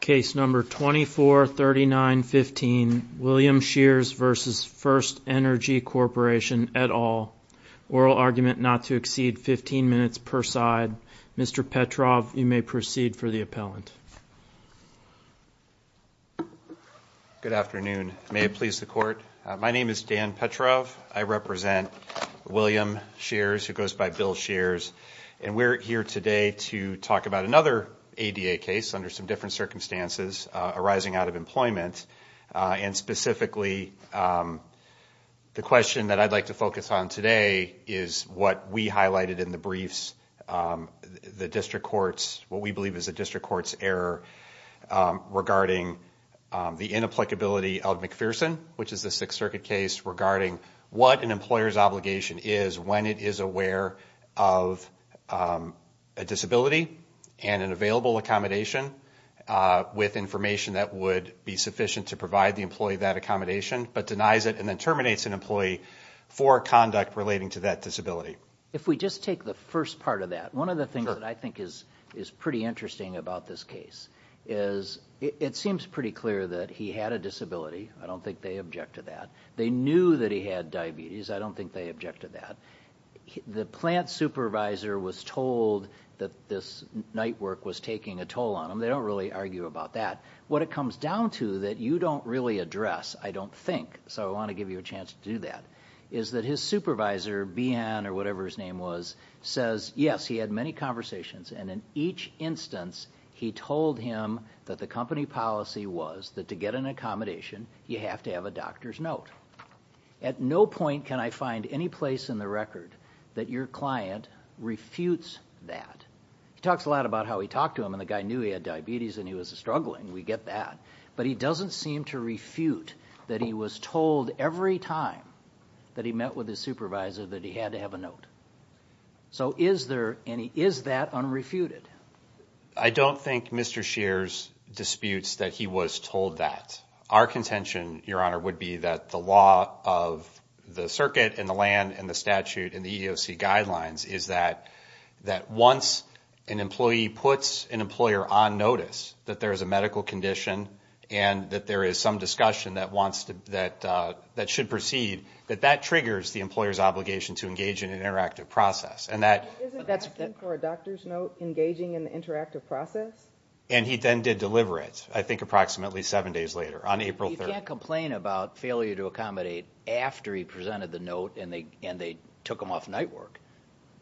Case number 243915 William Shears v. FirstEnergy Corporation et al. Oral argument not to exceed 15 minutes per side. Mr. Petrov you may proceed for the appellant. Good afternoon may it please the court my name is Dan Petrov I represent William Shears who goes by Bill Shears and we're here today to talk about another ADA case under some different circumstances arising out of employment and specifically the question that I'd like to focus on today is what we highlighted in the briefs the district courts what we believe is a district courts error regarding the inapplicability of McPherson which is the Sixth Circuit case regarding what an employer's obligation is when it is aware of a disability and an available accommodation with information that would be sufficient to provide the employee that accommodation but denies it and then terminates an employee for conduct relating to that disability. If we just take the first part of that one of the things that I think is is pretty interesting about this case is it seems pretty clear that he had a disability I don't think they object to that they knew that he had diabetes I don't think they objected that the plant supervisor was told that this night work was taking a toll on him they don't really argue about that what it comes down to that you don't really address I don't think so I want to give you a chance to do that is that his supervisor BN or whatever his name was says yes he had many conversations and in each instance he told him that the company policy was that to get an accommodation you have to have a doctor's note at no point can I find any place in the record that your client refutes that talks a lot about how he talked to him and the guy knew he had diabetes and he was struggling we get that but he doesn't seem to refute that he was told every time that he met with the supervisor that he had to have a note so is there any is that on refuted I don't think Mr. Shears disputes that he was told that our contention your honor would be that the law of the circuit in the land and the statute in the EEOC guidelines is that that once an employee puts an employer on notice that there is a medical condition and that there is some discussion that wants to that that should proceed that that triggers the employer's obligation to engage in an interactive process and that and he then did deliver it I think approximately seven days later on April 30 complain about failure to accommodate after he presented the note and they and they took him off night work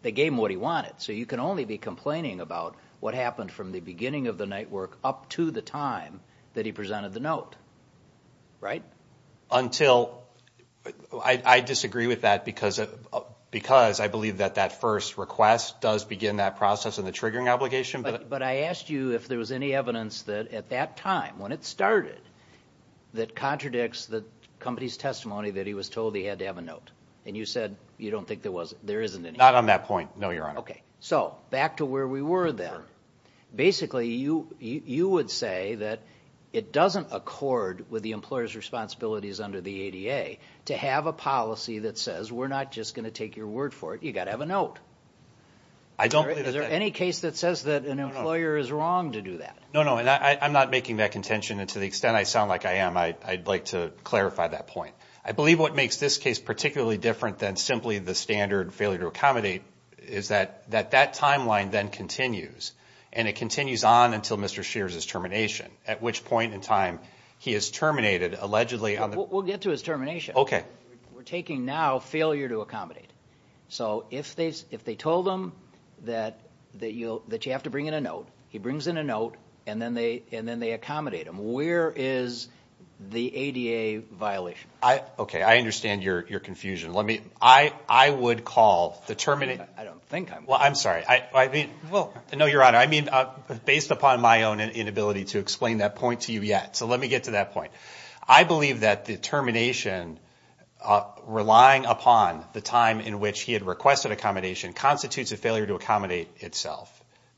they gave him what he wanted so you can only be complaining about what happened from the beginning of the night work up to the time that he presented the note right until I disagree with that because it because I believe that that first request does begin that process and the obligation but I asked you if there was any evidence that at that time when it started that contradicts the company's testimony that he was told he had to have a note and you said you don't think there was there isn't it not on that point no you're on okay so back to where we were then basically you you would say that it doesn't accord with the employer's responsibilities under the ADA to have a policy that says we're not just gonna take your word for it you got to have a note I don't there any case that says that an employer is wrong to do that no no and I'm not making that contention and to the extent I sound like I am I'd like to clarify that point I believe what makes this case particularly different than simply the standard failure to accommodate is that that that timeline then continues and it continues on until mr. Shears is termination at which point in time he is terminated allegedly on the we'll get to termination okay we're taking now failure to accommodate so if they if they told them that that you that you have to bring in a note he brings in a note and then they and then they accommodate him where is the ADA violation I okay I understand your your confusion let me I I would call the terminate I don't think I'm well I'm sorry I I mean well I know your honor I mean based upon my own inability to explain that point to you yet so let me get to that point I believe that the termination relying upon the time in which he had requested accommodation constitutes a failure to accommodate itself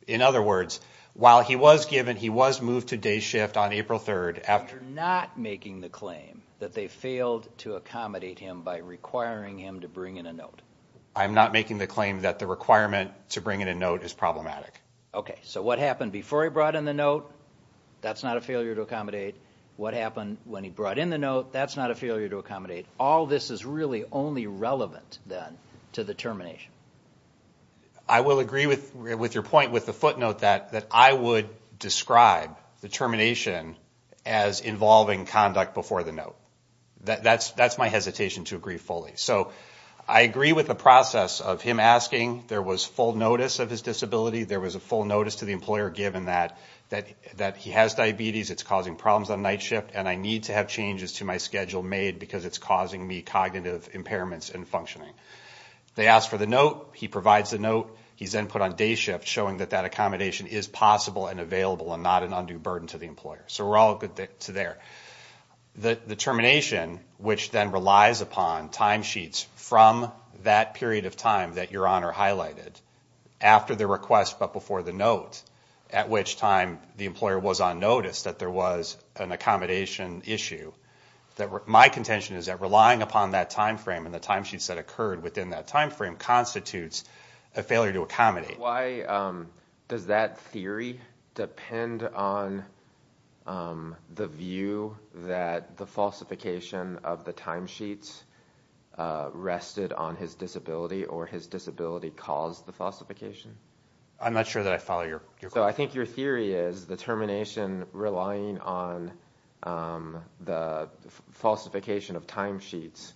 in other words while he was given he was moved to day shift on April 3rd after not making the claim that they failed to accommodate him by requiring him to bring in a note I'm not making the claim that the requirement to bring in a note is problematic okay so what happened before he brought in the note that's not a failure to accommodate what happened when he brought in the note that's not a failure to accommodate all this is really only relevant then to the termination I will agree with with your point with the footnote that that I would describe the termination as involving conduct before the note that that's that's my hesitation to agree fully so I agree with the process of him asking there was full notice of his disability there was a full notice to the employer given that that that he has diabetes it's causing problems on night shift and I need to have changes to my schedule made because it's causing me cognitive impairments and functioning they asked for the note he provides the note he's input on day shift showing that that accommodation is possible and available and not an undue burden to the employer so we're all good to there that the termination which then relies upon timesheets from that period of time that your honor highlighted after the request but before the note at which time the employer was on notice that there was an accommodation issue that my contention is that relying upon that time frame and the timesheets that occurred within that time frame constitutes a failure to accommodate why does that theory depend on the view that the falsification of the timesheets rested on his disability or his disability caused the falsification I'm not sure that I follow your so I think your theory is the termination relying on the falsification of timesheets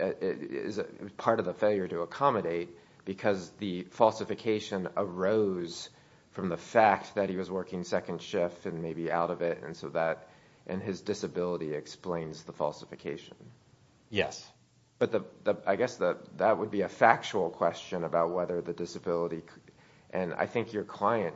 is a part of the failure to accommodate because the falsification arose from the fact that he was working second shift and maybe out of it and so that and his disability explains the falsification yes but the I guess that that would be a factual question about whether the disability and I think your client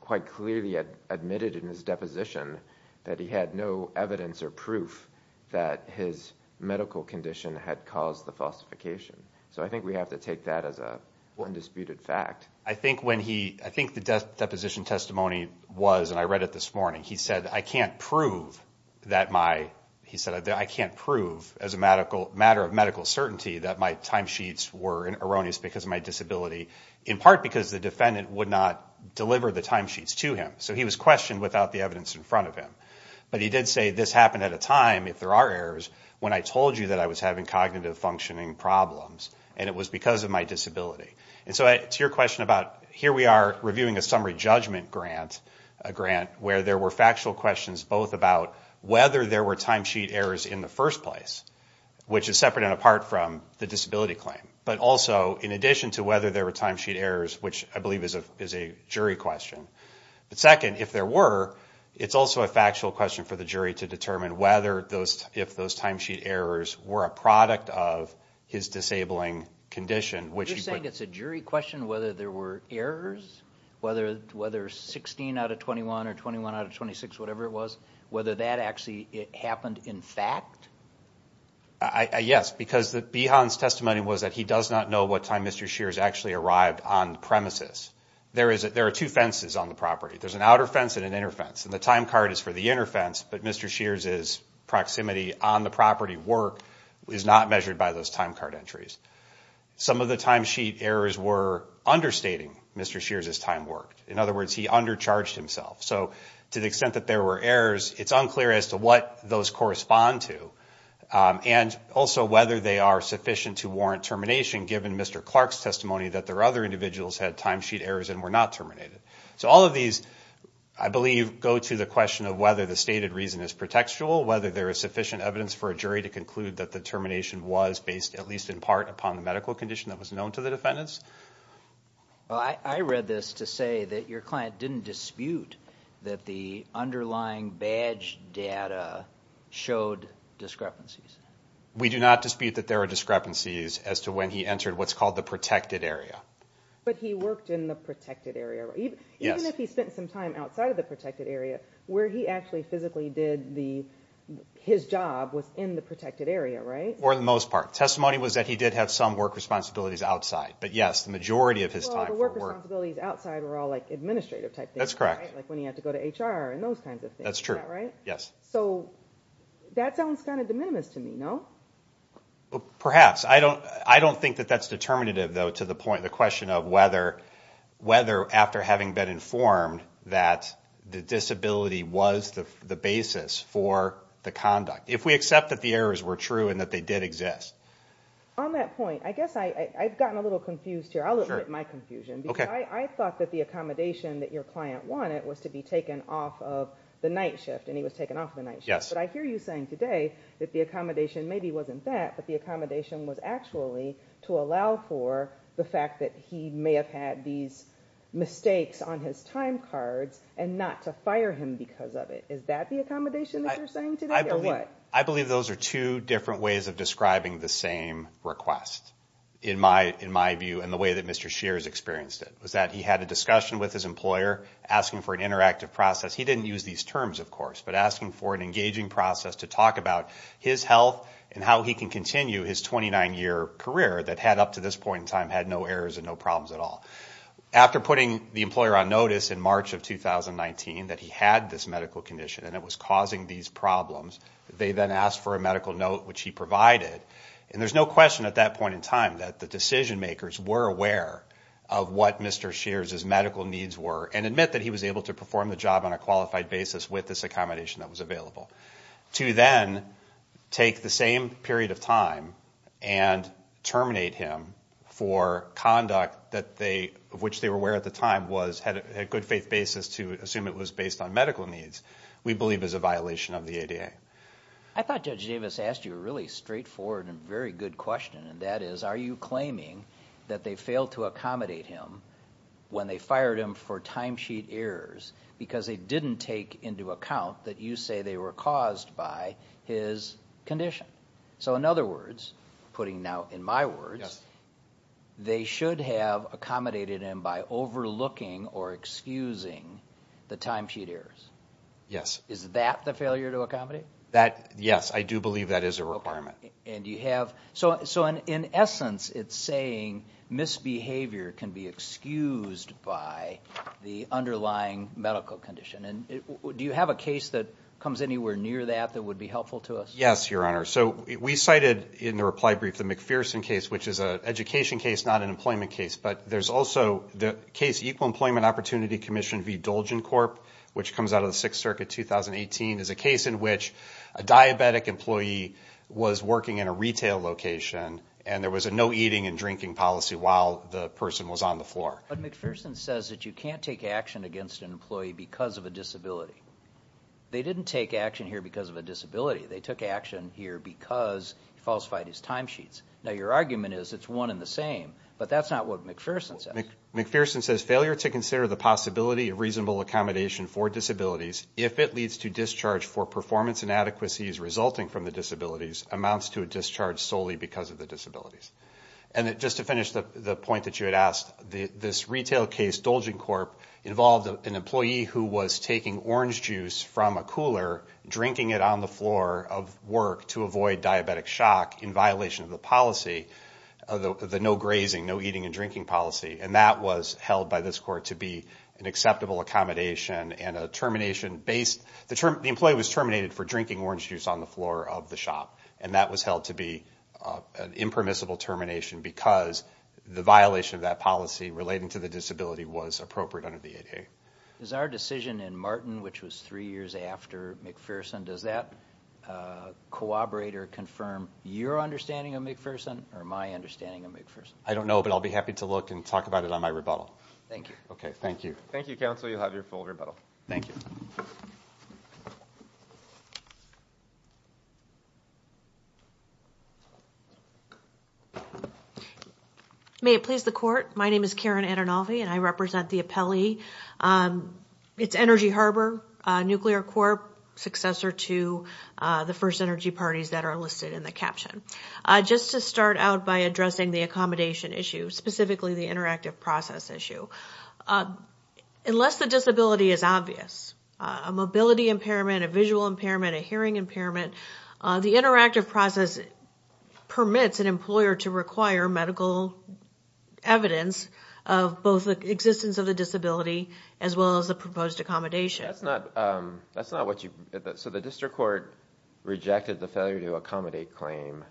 quite clearly admitted in his deposition that he had no evidence or proof that his medical condition had caused the falsification so I think we have to take that as a one disputed fact I think when he I think the death deposition testimony was and I read it this morning he said I can't prove that my he said I can't prove as a medical matter of medical certainty that my timesheets were erroneous because of my disability in part because the defendant would not deliver the timesheets to him so he was questioned without the evidence in front of him but he did say this happened at a time if there are errors when I told you that I was having cognitive functioning problems and it was because of my disability and so it's your question about here we are reviewing a summary judgment grant a grant where there were factual questions both about whether there were timesheet errors in the first place which is separate and apart from the disability claim but also in addition to whether there were timesheet errors which I believe is a is a jury question but second if there were it's also a factual question for the jury to determine whether those if those timesheet errors were a product of his disabling condition which is saying it's a jury question whether there were errors whether whether 16 out of 21 or 21 out of 26 whatever it was whether that actually it happened in fact I yes because the beyonds testimony was that he does not know what time mr. Shears actually arrived on premises there is that there are two fences on the property there's an outer fence and an inner fence and the time card is for the inner fence but mr. Shears is proximity on the property work is not measured by those time card entries some of the timesheet errors were understating mr. Shears his time worked in other words he undercharged himself so to the extent that there were errors it's unclear as to what those correspond to and also whether they are sufficient to warrant termination given mr. Clark's testimony that there are other individuals had timesheet errors and were not terminated so all of these I believe go to the question of whether the stated reason is pretextual whether there is sufficient evidence for a jury to conclude that the termination was based at least in part upon the medical condition that was known to the defendants I read this to say that your client didn't dispute that the underlying badge data showed discrepancies we do not dispute that there are discrepancies as to when he entered what's called the protected area but he worked in the protected area even if he spent some time outside of the protected area where he actually physically did the his job was in the protected area right or the most part testimony was that he did have some work responsibilities outside but yes the majority of his time outside were all like administrative type that's correct when you have to go to HR and those kinds of things that's true right yes so that sounds kind of de minimis to me no perhaps I don't I don't think that that's determinative though to the point the question of whether whether after having been informed that the disability was the basis for the conduct if we that the errors were true and that they did exist on that point I guess I I've gotten a little confused here I look at my confusion okay I thought that the accommodation that your client wanted was to be taken off of the night shift and he was taken off the night yes but I hear you saying today that the accommodation maybe wasn't that but the accommodation was actually to allow for the fact that he may have had these mistakes on his time cards and not to I believe those are two different ways of describing the same request in my in my view and the way that mr. Shears experienced it was that he had a discussion with his employer asking for an interactive process he didn't use these terms of course but asking for an engaging process to talk about his health and how he can continue his 29 year career that had up to this point in time had no errors and no problems at all after putting the employer on notice in March of 2019 that he had this medical condition and it was causing these problems they then asked for a medical note which he provided and there's no question at that point in time that the decision-makers were aware of what mr. Shears his medical needs were and admit that he was able to perform the job on a qualified basis with this accommodation that was available to then take the same period of time and terminate him for conduct that they of which they were aware at the time was had a good faith basis to assume it was based on medical needs we believe is a violation of the ADA I thought judge Davis asked you a really straightforward and very good question and that is are you claiming that they failed to accommodate him when they fired him for timesheet errors because they didn't take into account that you say they were caused by his condition so in other words putting now in my words they should have accommodated him by overlooking or excusing the timesheet errors yes is that the failure to accommodate that yes I do believe that is a requirement and you have so so in essence it's saying misbehavior can be excused by the underlying medical condition and do you have a case that comes anywhere near that that would be helpful to us yes your honor so we cited in the reply brief the McPherson case which is a education case not an employment case but there's also the case Equal Employment Opportunity Commission v. Dolgen Corp. which comes out of the Sixth Circuit 2018 is a case in which a diabetic employee was working in a retail location and there was a no eating and drinking policy while the person was on the floor McPherson says that you can't take action against an employee because of a disability they didn't take action here because of a disability they took action here because falsified his timesheets now your argument is it's one in the same but that's not what McPherson says McPherson says failure to consider the possibility of reasonable accommodation for disabilities if it leads to discharge for performance inadequacies resulting from the disabilities amounts to a discharge solely because of the disabilities and it just to finish the point that you had asked the this retail case Dolgen Corp. involved an employee who was taking orange juice from a cooler drinking it on the floor of work to avoid diabetic shock in violation of the policy of the no grazing no eating and drinking policy and that was held by this court to be an acceptable accommodation and a termination based the term the employee was terminated for drinking orange juice on the floor of the shop and that was held to be an impermissible termination because the violation of that policy relating to the disability was appropriate under the ADA is our decision in Martin which was three years after McPherson does that corroborate or confirm your understanding of McPherson or my understanding of McPherson I don't know but I'll be happy to look and talk about it on my rebuttal thank you okay thank you thank you counsel you'll have your full rebuttal thank you may it please the court my name is Karen and I'll be and I represent the Pele it's Energy Harbor Nuclear Corp successor to the first energy parties that are listed in the caption just to start out by addressing the accommodation issue specifically the interactive process issue unless the disability is obvious a mobility impairment a visual impairment a hearing impairment the interactive process permits an employer to require medical evidence of both the existence of the disability as well as the proposed accommodation that's not that's not what you so the district court rejected the failure to accommodate claim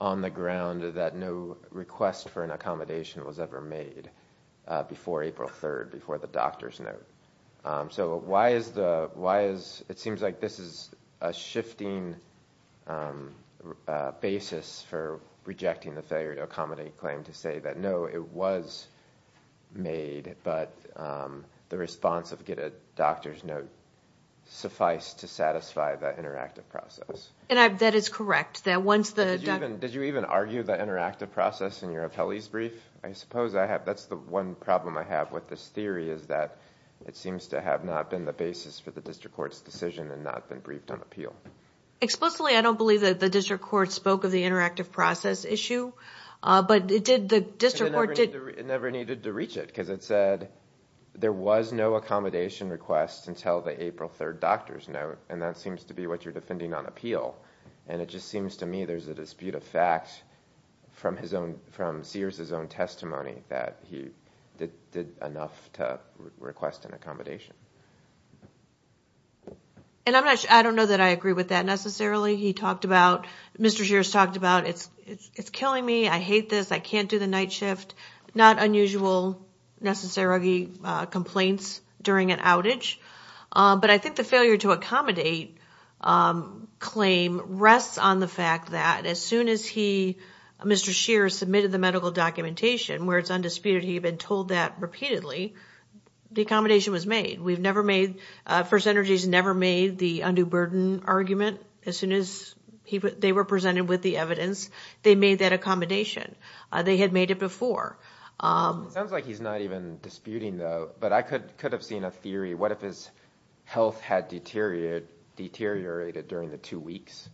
on the ground that no request for an accommodation was ever made before April 3rd before the doctor's note so why is the why is it seems like this is a shifting basis for rejecting the failure to accommodate claim to say that no it was made but the response of get a doctor's note suffice to satisfy that interactive process and I've that is correct that once the even did you even argue the interactive process in your appellees brief I suppose I have that's the one problem I have with this theory is that it seems to have not been the basis for the district courts decision and not been briefed on appeal explicitly I don't believe that the court spoke of the interactive process issue but it did the district it never needed to reach it because it said there was no accommodation request until the April 3rd doctor's note and that seems to be what you're defending on appeal and it just seems to me there's a dispute of fact from his own from Sears his own testimony that he did enough to request an accommodation and I'm not I don't know that I agree with that necessarily he talked about mr. shears talked about it's it's killing me I hate this I can't do the night shift not unusual necessary complaints during an outage but I think the failure to accommodate claim rests on the fact that as soon as he mr. shearer submitted the medical documentation where it's undisputed he had been told that repeatedly the accommodation was made we've never made first energies never made the undue burden argument as soon as people they were presented with the evidence they made that accommodation they had made it before sounds like he's not even disputing though but I could could have seen a theory what if his health had deteriorated deteriorated during the two weeks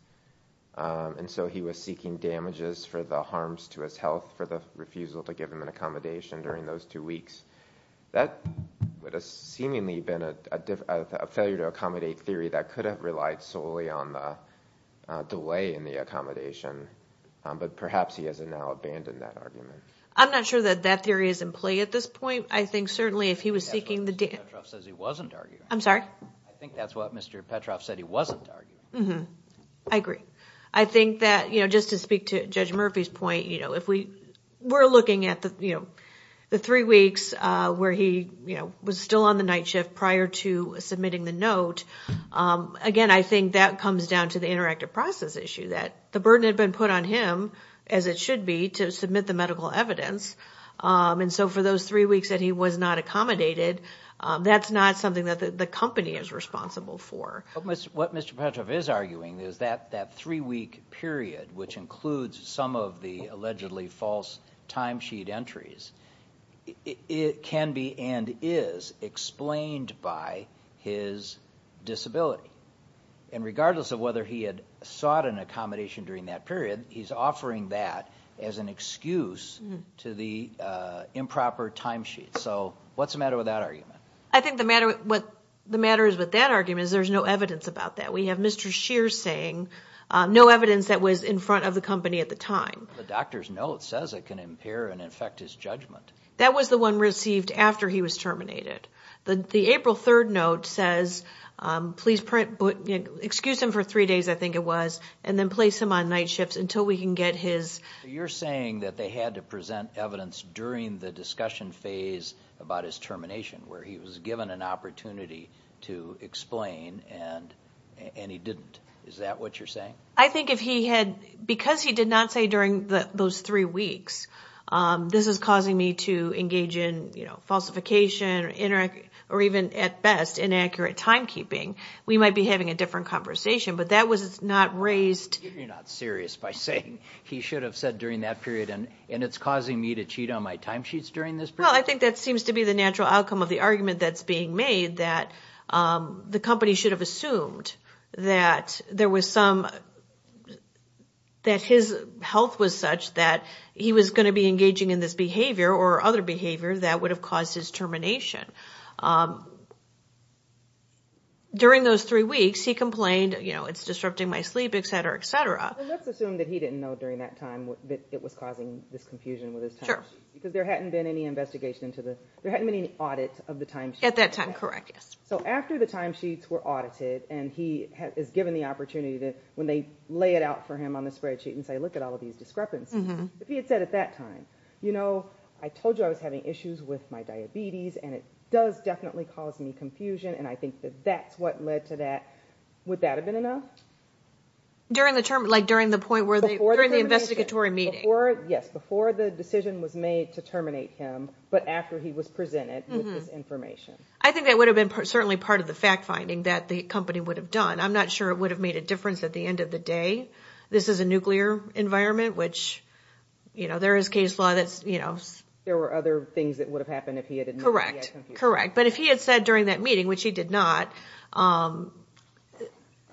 and so he was seeking damages for the harms to his health for the refusal to give him an accommodation during those two weeks that would have seemingly been a failure to accommodate theory that could have relied solely on the delay in the accommodation but perhaps he has it now abandoned that argument I'm not sure that that theory is in play at this point I think certainly if he was seeking the day I'm sorry I think that's what mr. Petroff said he wasn't mm-hmm I agree I think that you know just to speak to judge Murphy's point you know if we were looking at the you know the three weeks where he you know was still on the night shift prior to submitting the note again I think that comes down to the interactive process issue that the burden had been put on him as it should be to submit the medical evidence and so for those three weeks that he was not accommodated that's not something that the company is responsible for what mr. Petroff is arguing is that that three-week period which includes some of the allegedly false timesheet entries it can be and is explained by his disability and regardless of whether he had sought an accommodation during that period he's offering that as an excuse to the improper timesheet so what's the matter with that argument I think the matter what the matter is with that argument is there's no evidence about that we have mr. Shear saying no evidence that was in front of the company at the time the doctor's note says it can impair and infect his judgment that was the one received after he was terminated the the April 3rd note says please print but excuse him for three days I think it was and then place him on night shifts until we can get his you're saying that they had to present evidence during the discussion phase about his termination where he was given an opportunity to explain and and he didn't is that what you're saying I think if he had because he did not say during the those three weeks this is causing me to engage in you know falsification interact or even at best inaccurate timekeeping we might be having a different conversation but that was it's not raised serious by saying he should have said during that period and and it's causing me to cheat on my timesheets during this well I think that seems to be the natural outcome of the that the company should have assumed that there was some that his health was such that he was going to be engaging in this behavior or other behavior that would have caused his termination during those three weeks he complained you know it's disrupting my sleep etc etc assume that he didn't know during that time that it was causing this confusion with his church because there hadn't been any there hadn't been any audit of the time at that time correct yes so after the timesheets were audited and he has given the opportunity that when they lay it out for him on the spreadsheet and say look at all of these discrepancies if he had said at that time you know I told you I was having issues with my diabetes and it does definitely cause me confusion and I think that that's what led to that would that have been enough during the term like during the point where they were in the investigatory meeting or yes before the decision was made to terminate him but after he was presented with this information I think that would have been certainly part of the fact-finding that the company would have done I'm not sure it would have made a difference at the end of the day this is a nuclear environment which you know there is case law that's you know there were other things that would have happened if he had correct correct but if he had said during that meeting which he did not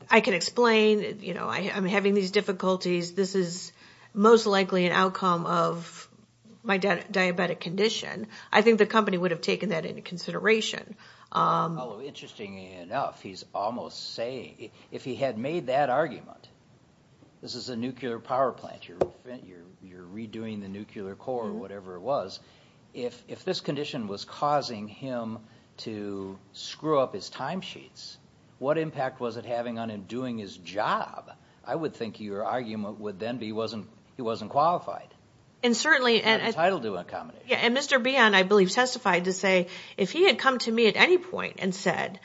I can explain you know I'm having these difficulties this is most likely an outcome of my diabetic condition I think the company would have taken that into consideration interesting enough he's almost saying if he had made that argument this is a nuclear power plant you're you're redoing the nuclear core or whatever it was if if this condition was causing him to screw up his timesheets what impact was it having on him doing his job I would think your argument would then be wasn't he wasn't qualified and certainly and I'll do a comedy yeah and mr. beyond I believe testified to say if he had come to me at any point and said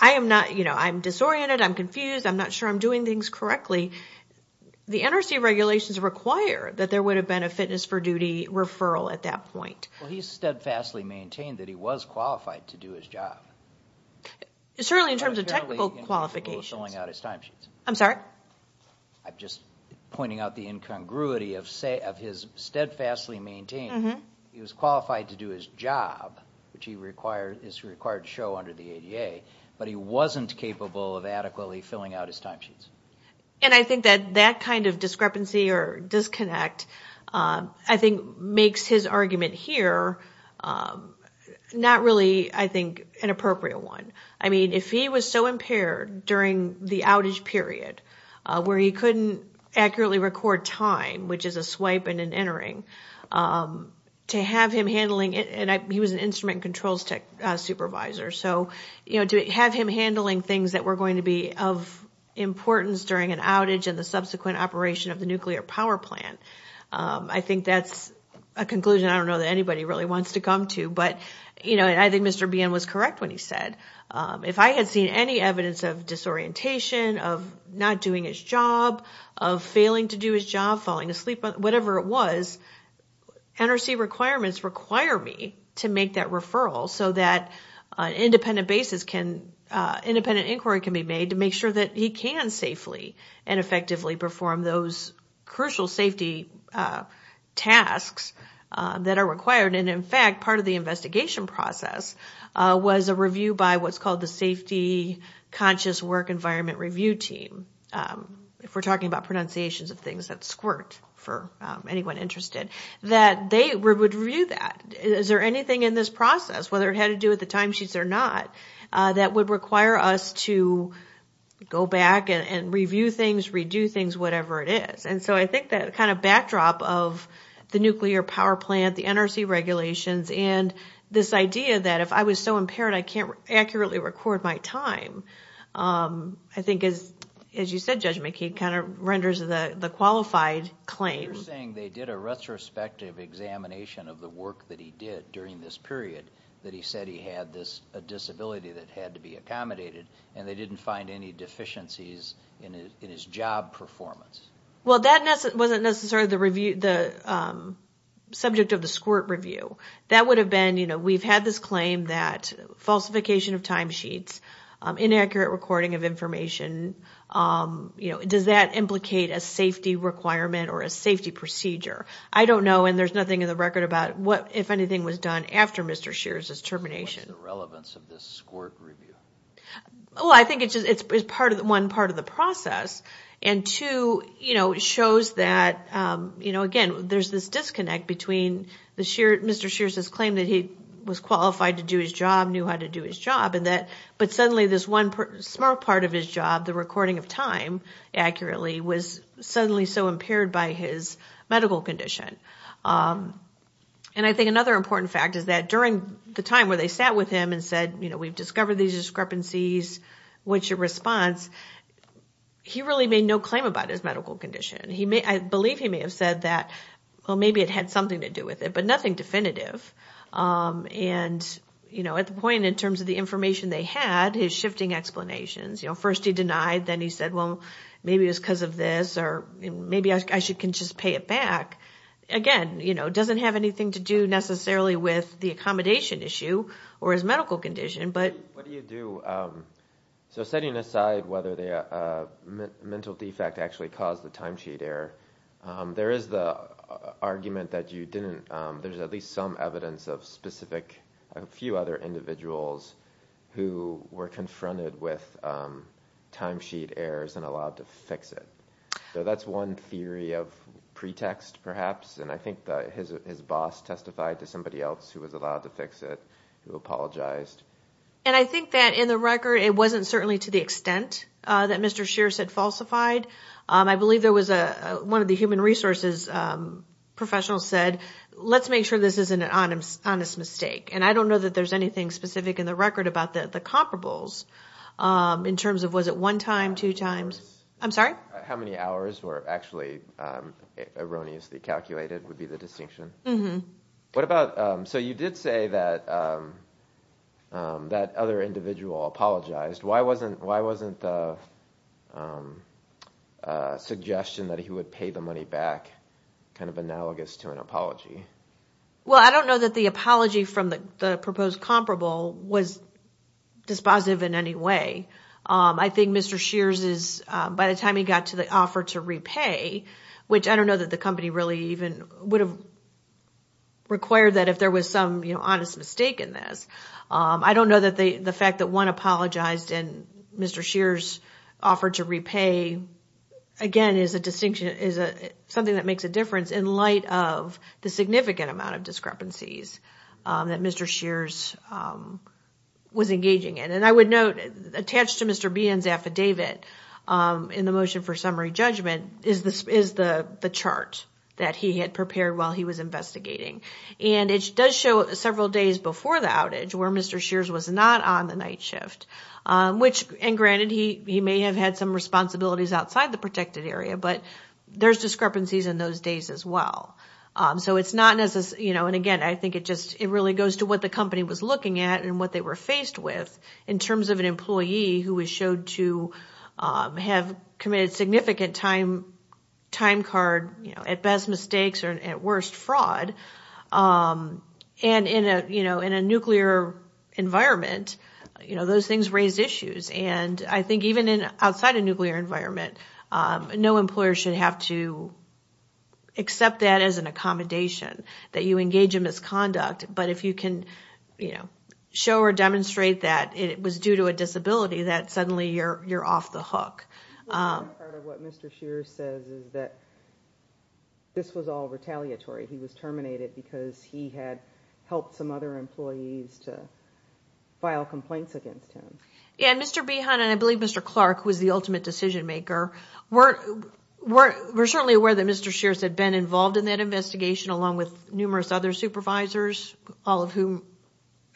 I am NOT you know I'm disoriented I'm confused I'm not sure I'm doing things correctly the NRC regulations require that there would have been a fitness for duty referral at that point well he's steadfastly maintained that he was qualified to do his job certainly in terms of technical qualifications I'm sorry I'm just pointing out the incongruity of say of his steadfastly maintained mm-hmm he was qualified to do his job which he required this required show under the ADA but he wasn't capable of adequately filling out his timesheets and I think that that kind of discrepancy or disconnect I think makes his argument here not really I think an appropriate one I mean if he was so impaired during the outage period where he couldn't accurately record time which is a swipe and an entering to have him handling it and I he was an instrument controls tech supervisor so you know to have him handling things that were going to be of importance during an outage and the subsequent operation of the nuclear power plant I think that's a conclusion I don't know that anybody really wants to come to but you know and I think mr. BN was correct when he said if I had seen any evidence of disorientation of not doing his job of failing to do his job falling asleep but whatever it was NRC requirements require me to make that referral so that an independent basis can independent inquiry can be made to sure that he can safely and effectively perform those crucial safety tasks that are required and in fact part of the investigation process was a review by what's called the safety conscious work environment review team if we're talking about pronunciations of things that squirt for anyone interested that they would review that is there anything in this process whether it had to do at the not that would require us to go back and review things redo things whatever it is and so I think that kind of backdrop of the nuclear power plant the NRC regulations and this idea that if I was so impaired I can't accurately record my time I think is as you said judgment key kind of renders the the qualified claim saying they did a retrospective examination of the work that he did during this period that he said he had this disability that had to be accommodated and they didn't find any deficiencies in his job performance well that wasn't necessarily the review the subject of the squirt review that would have been you know we've had this claim that falsification of timesheets inaccurate recording of information you know it does that implicate a safety requirement or a safety procedure I don't know and there's nothing in the after mr. shears his termination the relevance of this squirt review oh I think it's part of the one part of the process and to you know it shows that you know again there's this disconnect between the sheer mr. shears his claim that he was qualified to do his job knew how to do his job and that but suddenly this one smart part of his job the recording of time accurately was suddenly so impaired by his medical condition and I think another important fact is that during the time where they sat with him and said you know we've discovered these discrepancies which a response he really made no claim about his medical condition he may I believe he may have said that well maybe it had something to do with it but nothing definitive and you know at the point in terms of the information they had his shifting explanations you know first he denied then he said well maybe it's because of this or maybe I should can just pay it back again you know doesn't have anything to do necessarily with the accommodation issue or his medical condition but so setting aside whether they are mental defect actually caused the timesheet error there is the argument that you didn't there's at least some evidence of specific a few other individuals who were confronted with timesheet errors and allowed to fix it that's one theory of pretext perhaps and I think that his boss testified to somebody else who was allowed to fix it who apologized and I think that in the record it wasn't certainly to the extent that mr. shears had falsified I believe there was a one of the human resources professionals said let's make sure this isn't an honest mistake and I don't know that there's anything specific in the record about that the comparables in terms of was it one time two times I'm how many hours were actually erroneously calculated would be the distinction what about so you did say that that other individual apologized why wasn't why wasn't the suggestion that he would pay the money back kind of analogous to an apology well I don't know that the apology from the proposed comparable was dispositive in any way I think mr. shears is by the time he got to the offer to repay which I don't know that the company really even would have required that if there was some you know honest mistake in this I don't know that they the fact that one apologized and mr. shears offered to repay again is a distinction is a something that makes a difference in light of the significant amount of discrepancies that mr. shears was engaging in and I would note attached to mr. Behan's affidavit in the motion for summary judgment is this is the the chart that he had prepared while he was investigating and it does show several days before the outage where mr. shears was not on the night shift which and granted he may have had some responsibilities outside the protected area but there's discrepancies in those days as well so it's not as you know and again I think it just it really goes to what the company was looking at and what they were faced with in terms of an employee who was showed to have committed significant time time card you know at best mistakes or at worst fraud and in a you know in a nuclear environment you know those things raise issues and I think even in outside a nuclear environment no employer should have to accept that as an accommodation that you engage in misconduct but if you can you know show or demonstrate that it was due to a disability that suddenly you're you're off the hook this was all retaliatory he was terminated because he had helped some other employees to file complaints against him and mr. behind and I believe mr. Clark was the ultimate decision-maker we're we're certainly aware that mr. shears had been involved in that investigation along with numerous other supervisors all of whom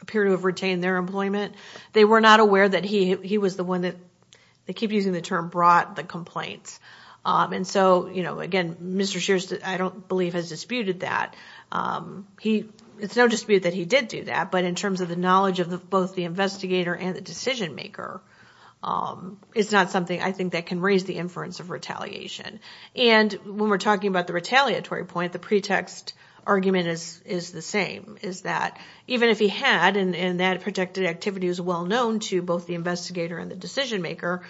appear to have retained their employment they were not aware that he was the one that they keep using the term brought the complaints and so you know again mr. shears that I don't believe has that he it's no dispute that he did do that but in terms of the knowledge of the both the investigator and the decision-maker it's not something I think that can raise the inference of retaliation and when we're talking about the retaliatory point the pretext argument is is the same is that even if he had and and that protected activity was well known to both the investigator and the decision-maker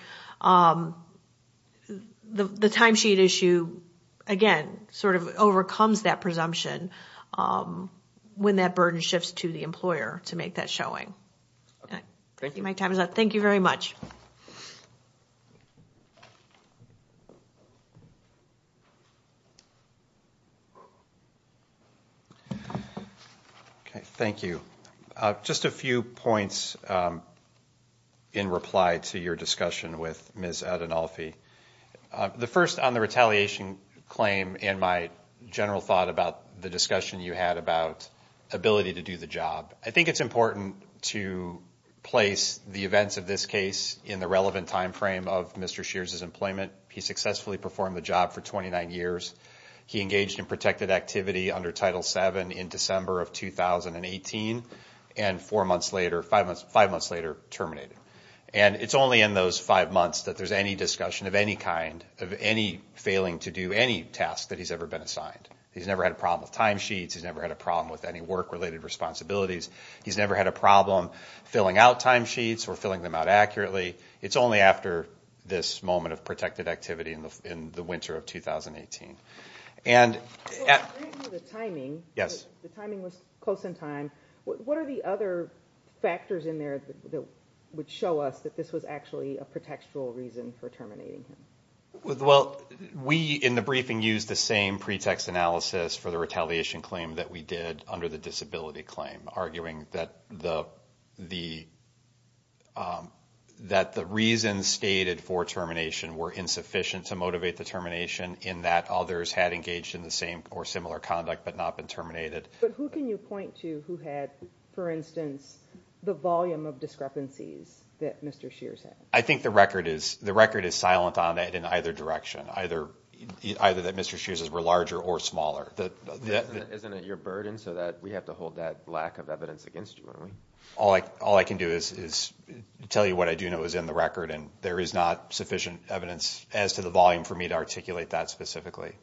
the timesheet issue again sort of overcomes that presumption when that burden shifts to the employer to make that showing okay thank you my time is up thank you very much okay thank you just a few points in reply to your discussion with miss out and Alfie the first on the retaliation claim and my general thought about the discussion you had about ability to do the job I think it's important to place the events of this case in the relevant time frame of mr. shears his employment he successfully performed the job for 29 years he engaged in protected activity under title 7 in December of 2018 and four months later five months five months later terminated and it's only in those five months that there's any discussion of any kind of any failing to do any task that he's ever been assigned he's never had a problem with timesheets he's never had a problem with any work related responsibilities he's never had a problem filling out timesheets or filling them out accurately it's only after this moment of protected activity in the in the winter of 2018 and the timing yes the timing was close in time what are the other factors in there that would show us that this was actually a pretextual reason for terminating him well we in the briefing used the same analysis for the retaliation claim that we did under the disability claim arguing that the the that the reasons stated for termination were insufficient to motivate the termination in that others had engaged in the same or similar conduct but not been terminated but who can you point to who had for instance the volume of discrepancies that mr. shears I think the record is the record is silent on that in either direction either either that mr. shears as were larger or smaller that isn't it your burden so that we have to hold that lack of evidence against you only all I all I can do is tell you what I do know is in the record and there is not sufficient evidence as to the volume for me to articulate that specifically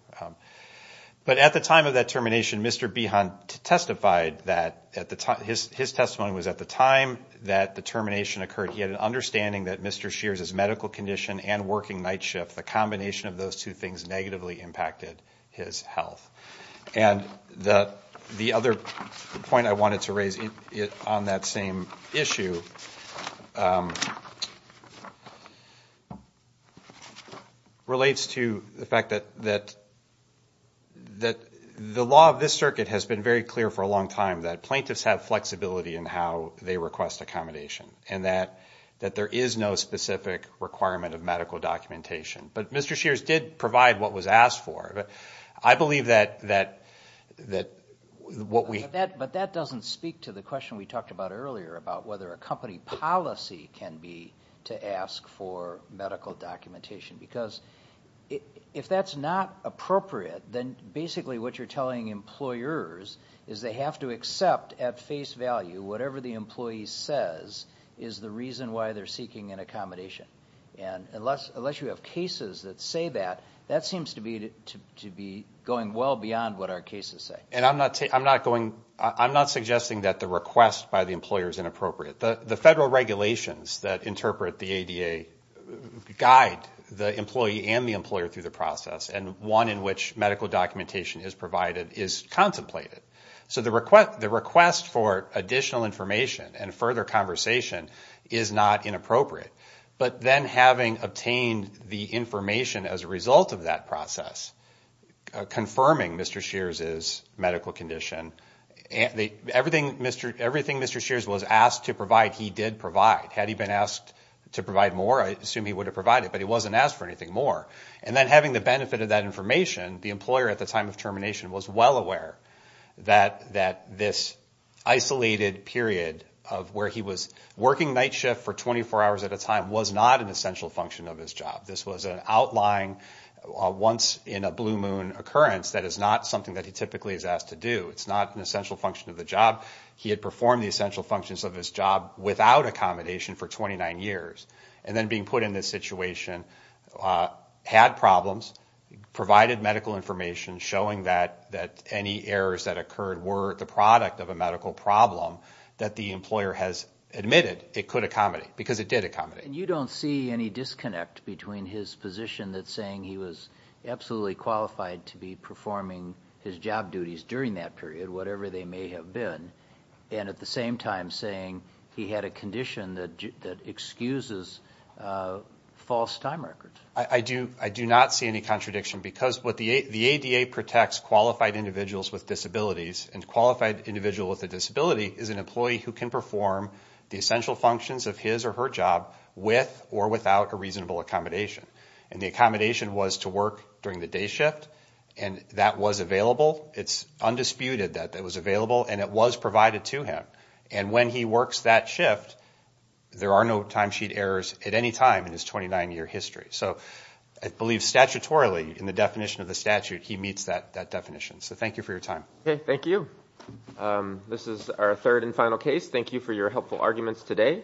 but at the time of that termination mr. B hunt testified that at the time his testimony was at the time that the termination occurred he had an understanding that mr. shears is medical condition and working night shift the combination of those two things negatively impacted his health and the the other point I wanted to raise it on that same issue relates to the fact that that that the law of this circuit has been very clear for a long time that plaintiffs have flexibility and how they request accommodation and that that there is no specific requirement of medical documentation but mr. shears did provide what was asked for but I believe that that that what we that but that doesn't speak to the question we talked about earlier about whether a company policy can be to ask for medical documentation because if that's not appropriate then basically what you're telling employers is they have to accept at face value whatever the employee says is the reason why they're seeking an accommodation and unless unless you have cases that say that that seems to be to be going well beyond what our cases say and I'm not saying I'm not going I'm not suggesting that the request by the employer is inappropriate the the federal regulations that interpret the ADA guide the employee and the employer through the process and one in which medical documentation is provided is contemplated so the request for additional information and further conversation is not inappropriate but then having obtained the information as a result of that process confirming mr. shears is medical condition and everything mr. everything mr. shears was asked to provide he did provide had he been asked to provide more I assume he would have provided but he wasn't asked for anything more and then having the benefit of that information the employer at the time of termination was well aware that that this isolated period of where he was working night shift for 24 hours at a time was not an essential function of his job this was an outlying once in a blue moon occurrence that is not something that he typically is asked to do it's not an essential function of the job he had performed the essential functions of his job without accommodation for 29 years and then being put in this situation had problems provided medical information showing that that any errors that occurred were the product of a medical problem that the employer has admitted it could accommodate because it did a comedy and you don't see any disconnect between his position that saying he was absolutely qualified to be performing his job duties during that period whatever they may have been and at the same time saying he had a condition that that excuses false time records I do I do not see any contradiction because what the ADA protects qualified individuals with disabilities and qualified individual with a disability is an employee who can perform the essential functions of his or her job with or without a reasonable accommodation and the accommodation was to work during the day shift and that was available it's undisputed that that was available and it was provided to him and when he works that shift there are no timesheet errors at any time in his 29 year history so I believe statutorily in the definition of the statute he meets that that definition so thank you for your time thank you this is our third and final case thank you for your helpful arguments today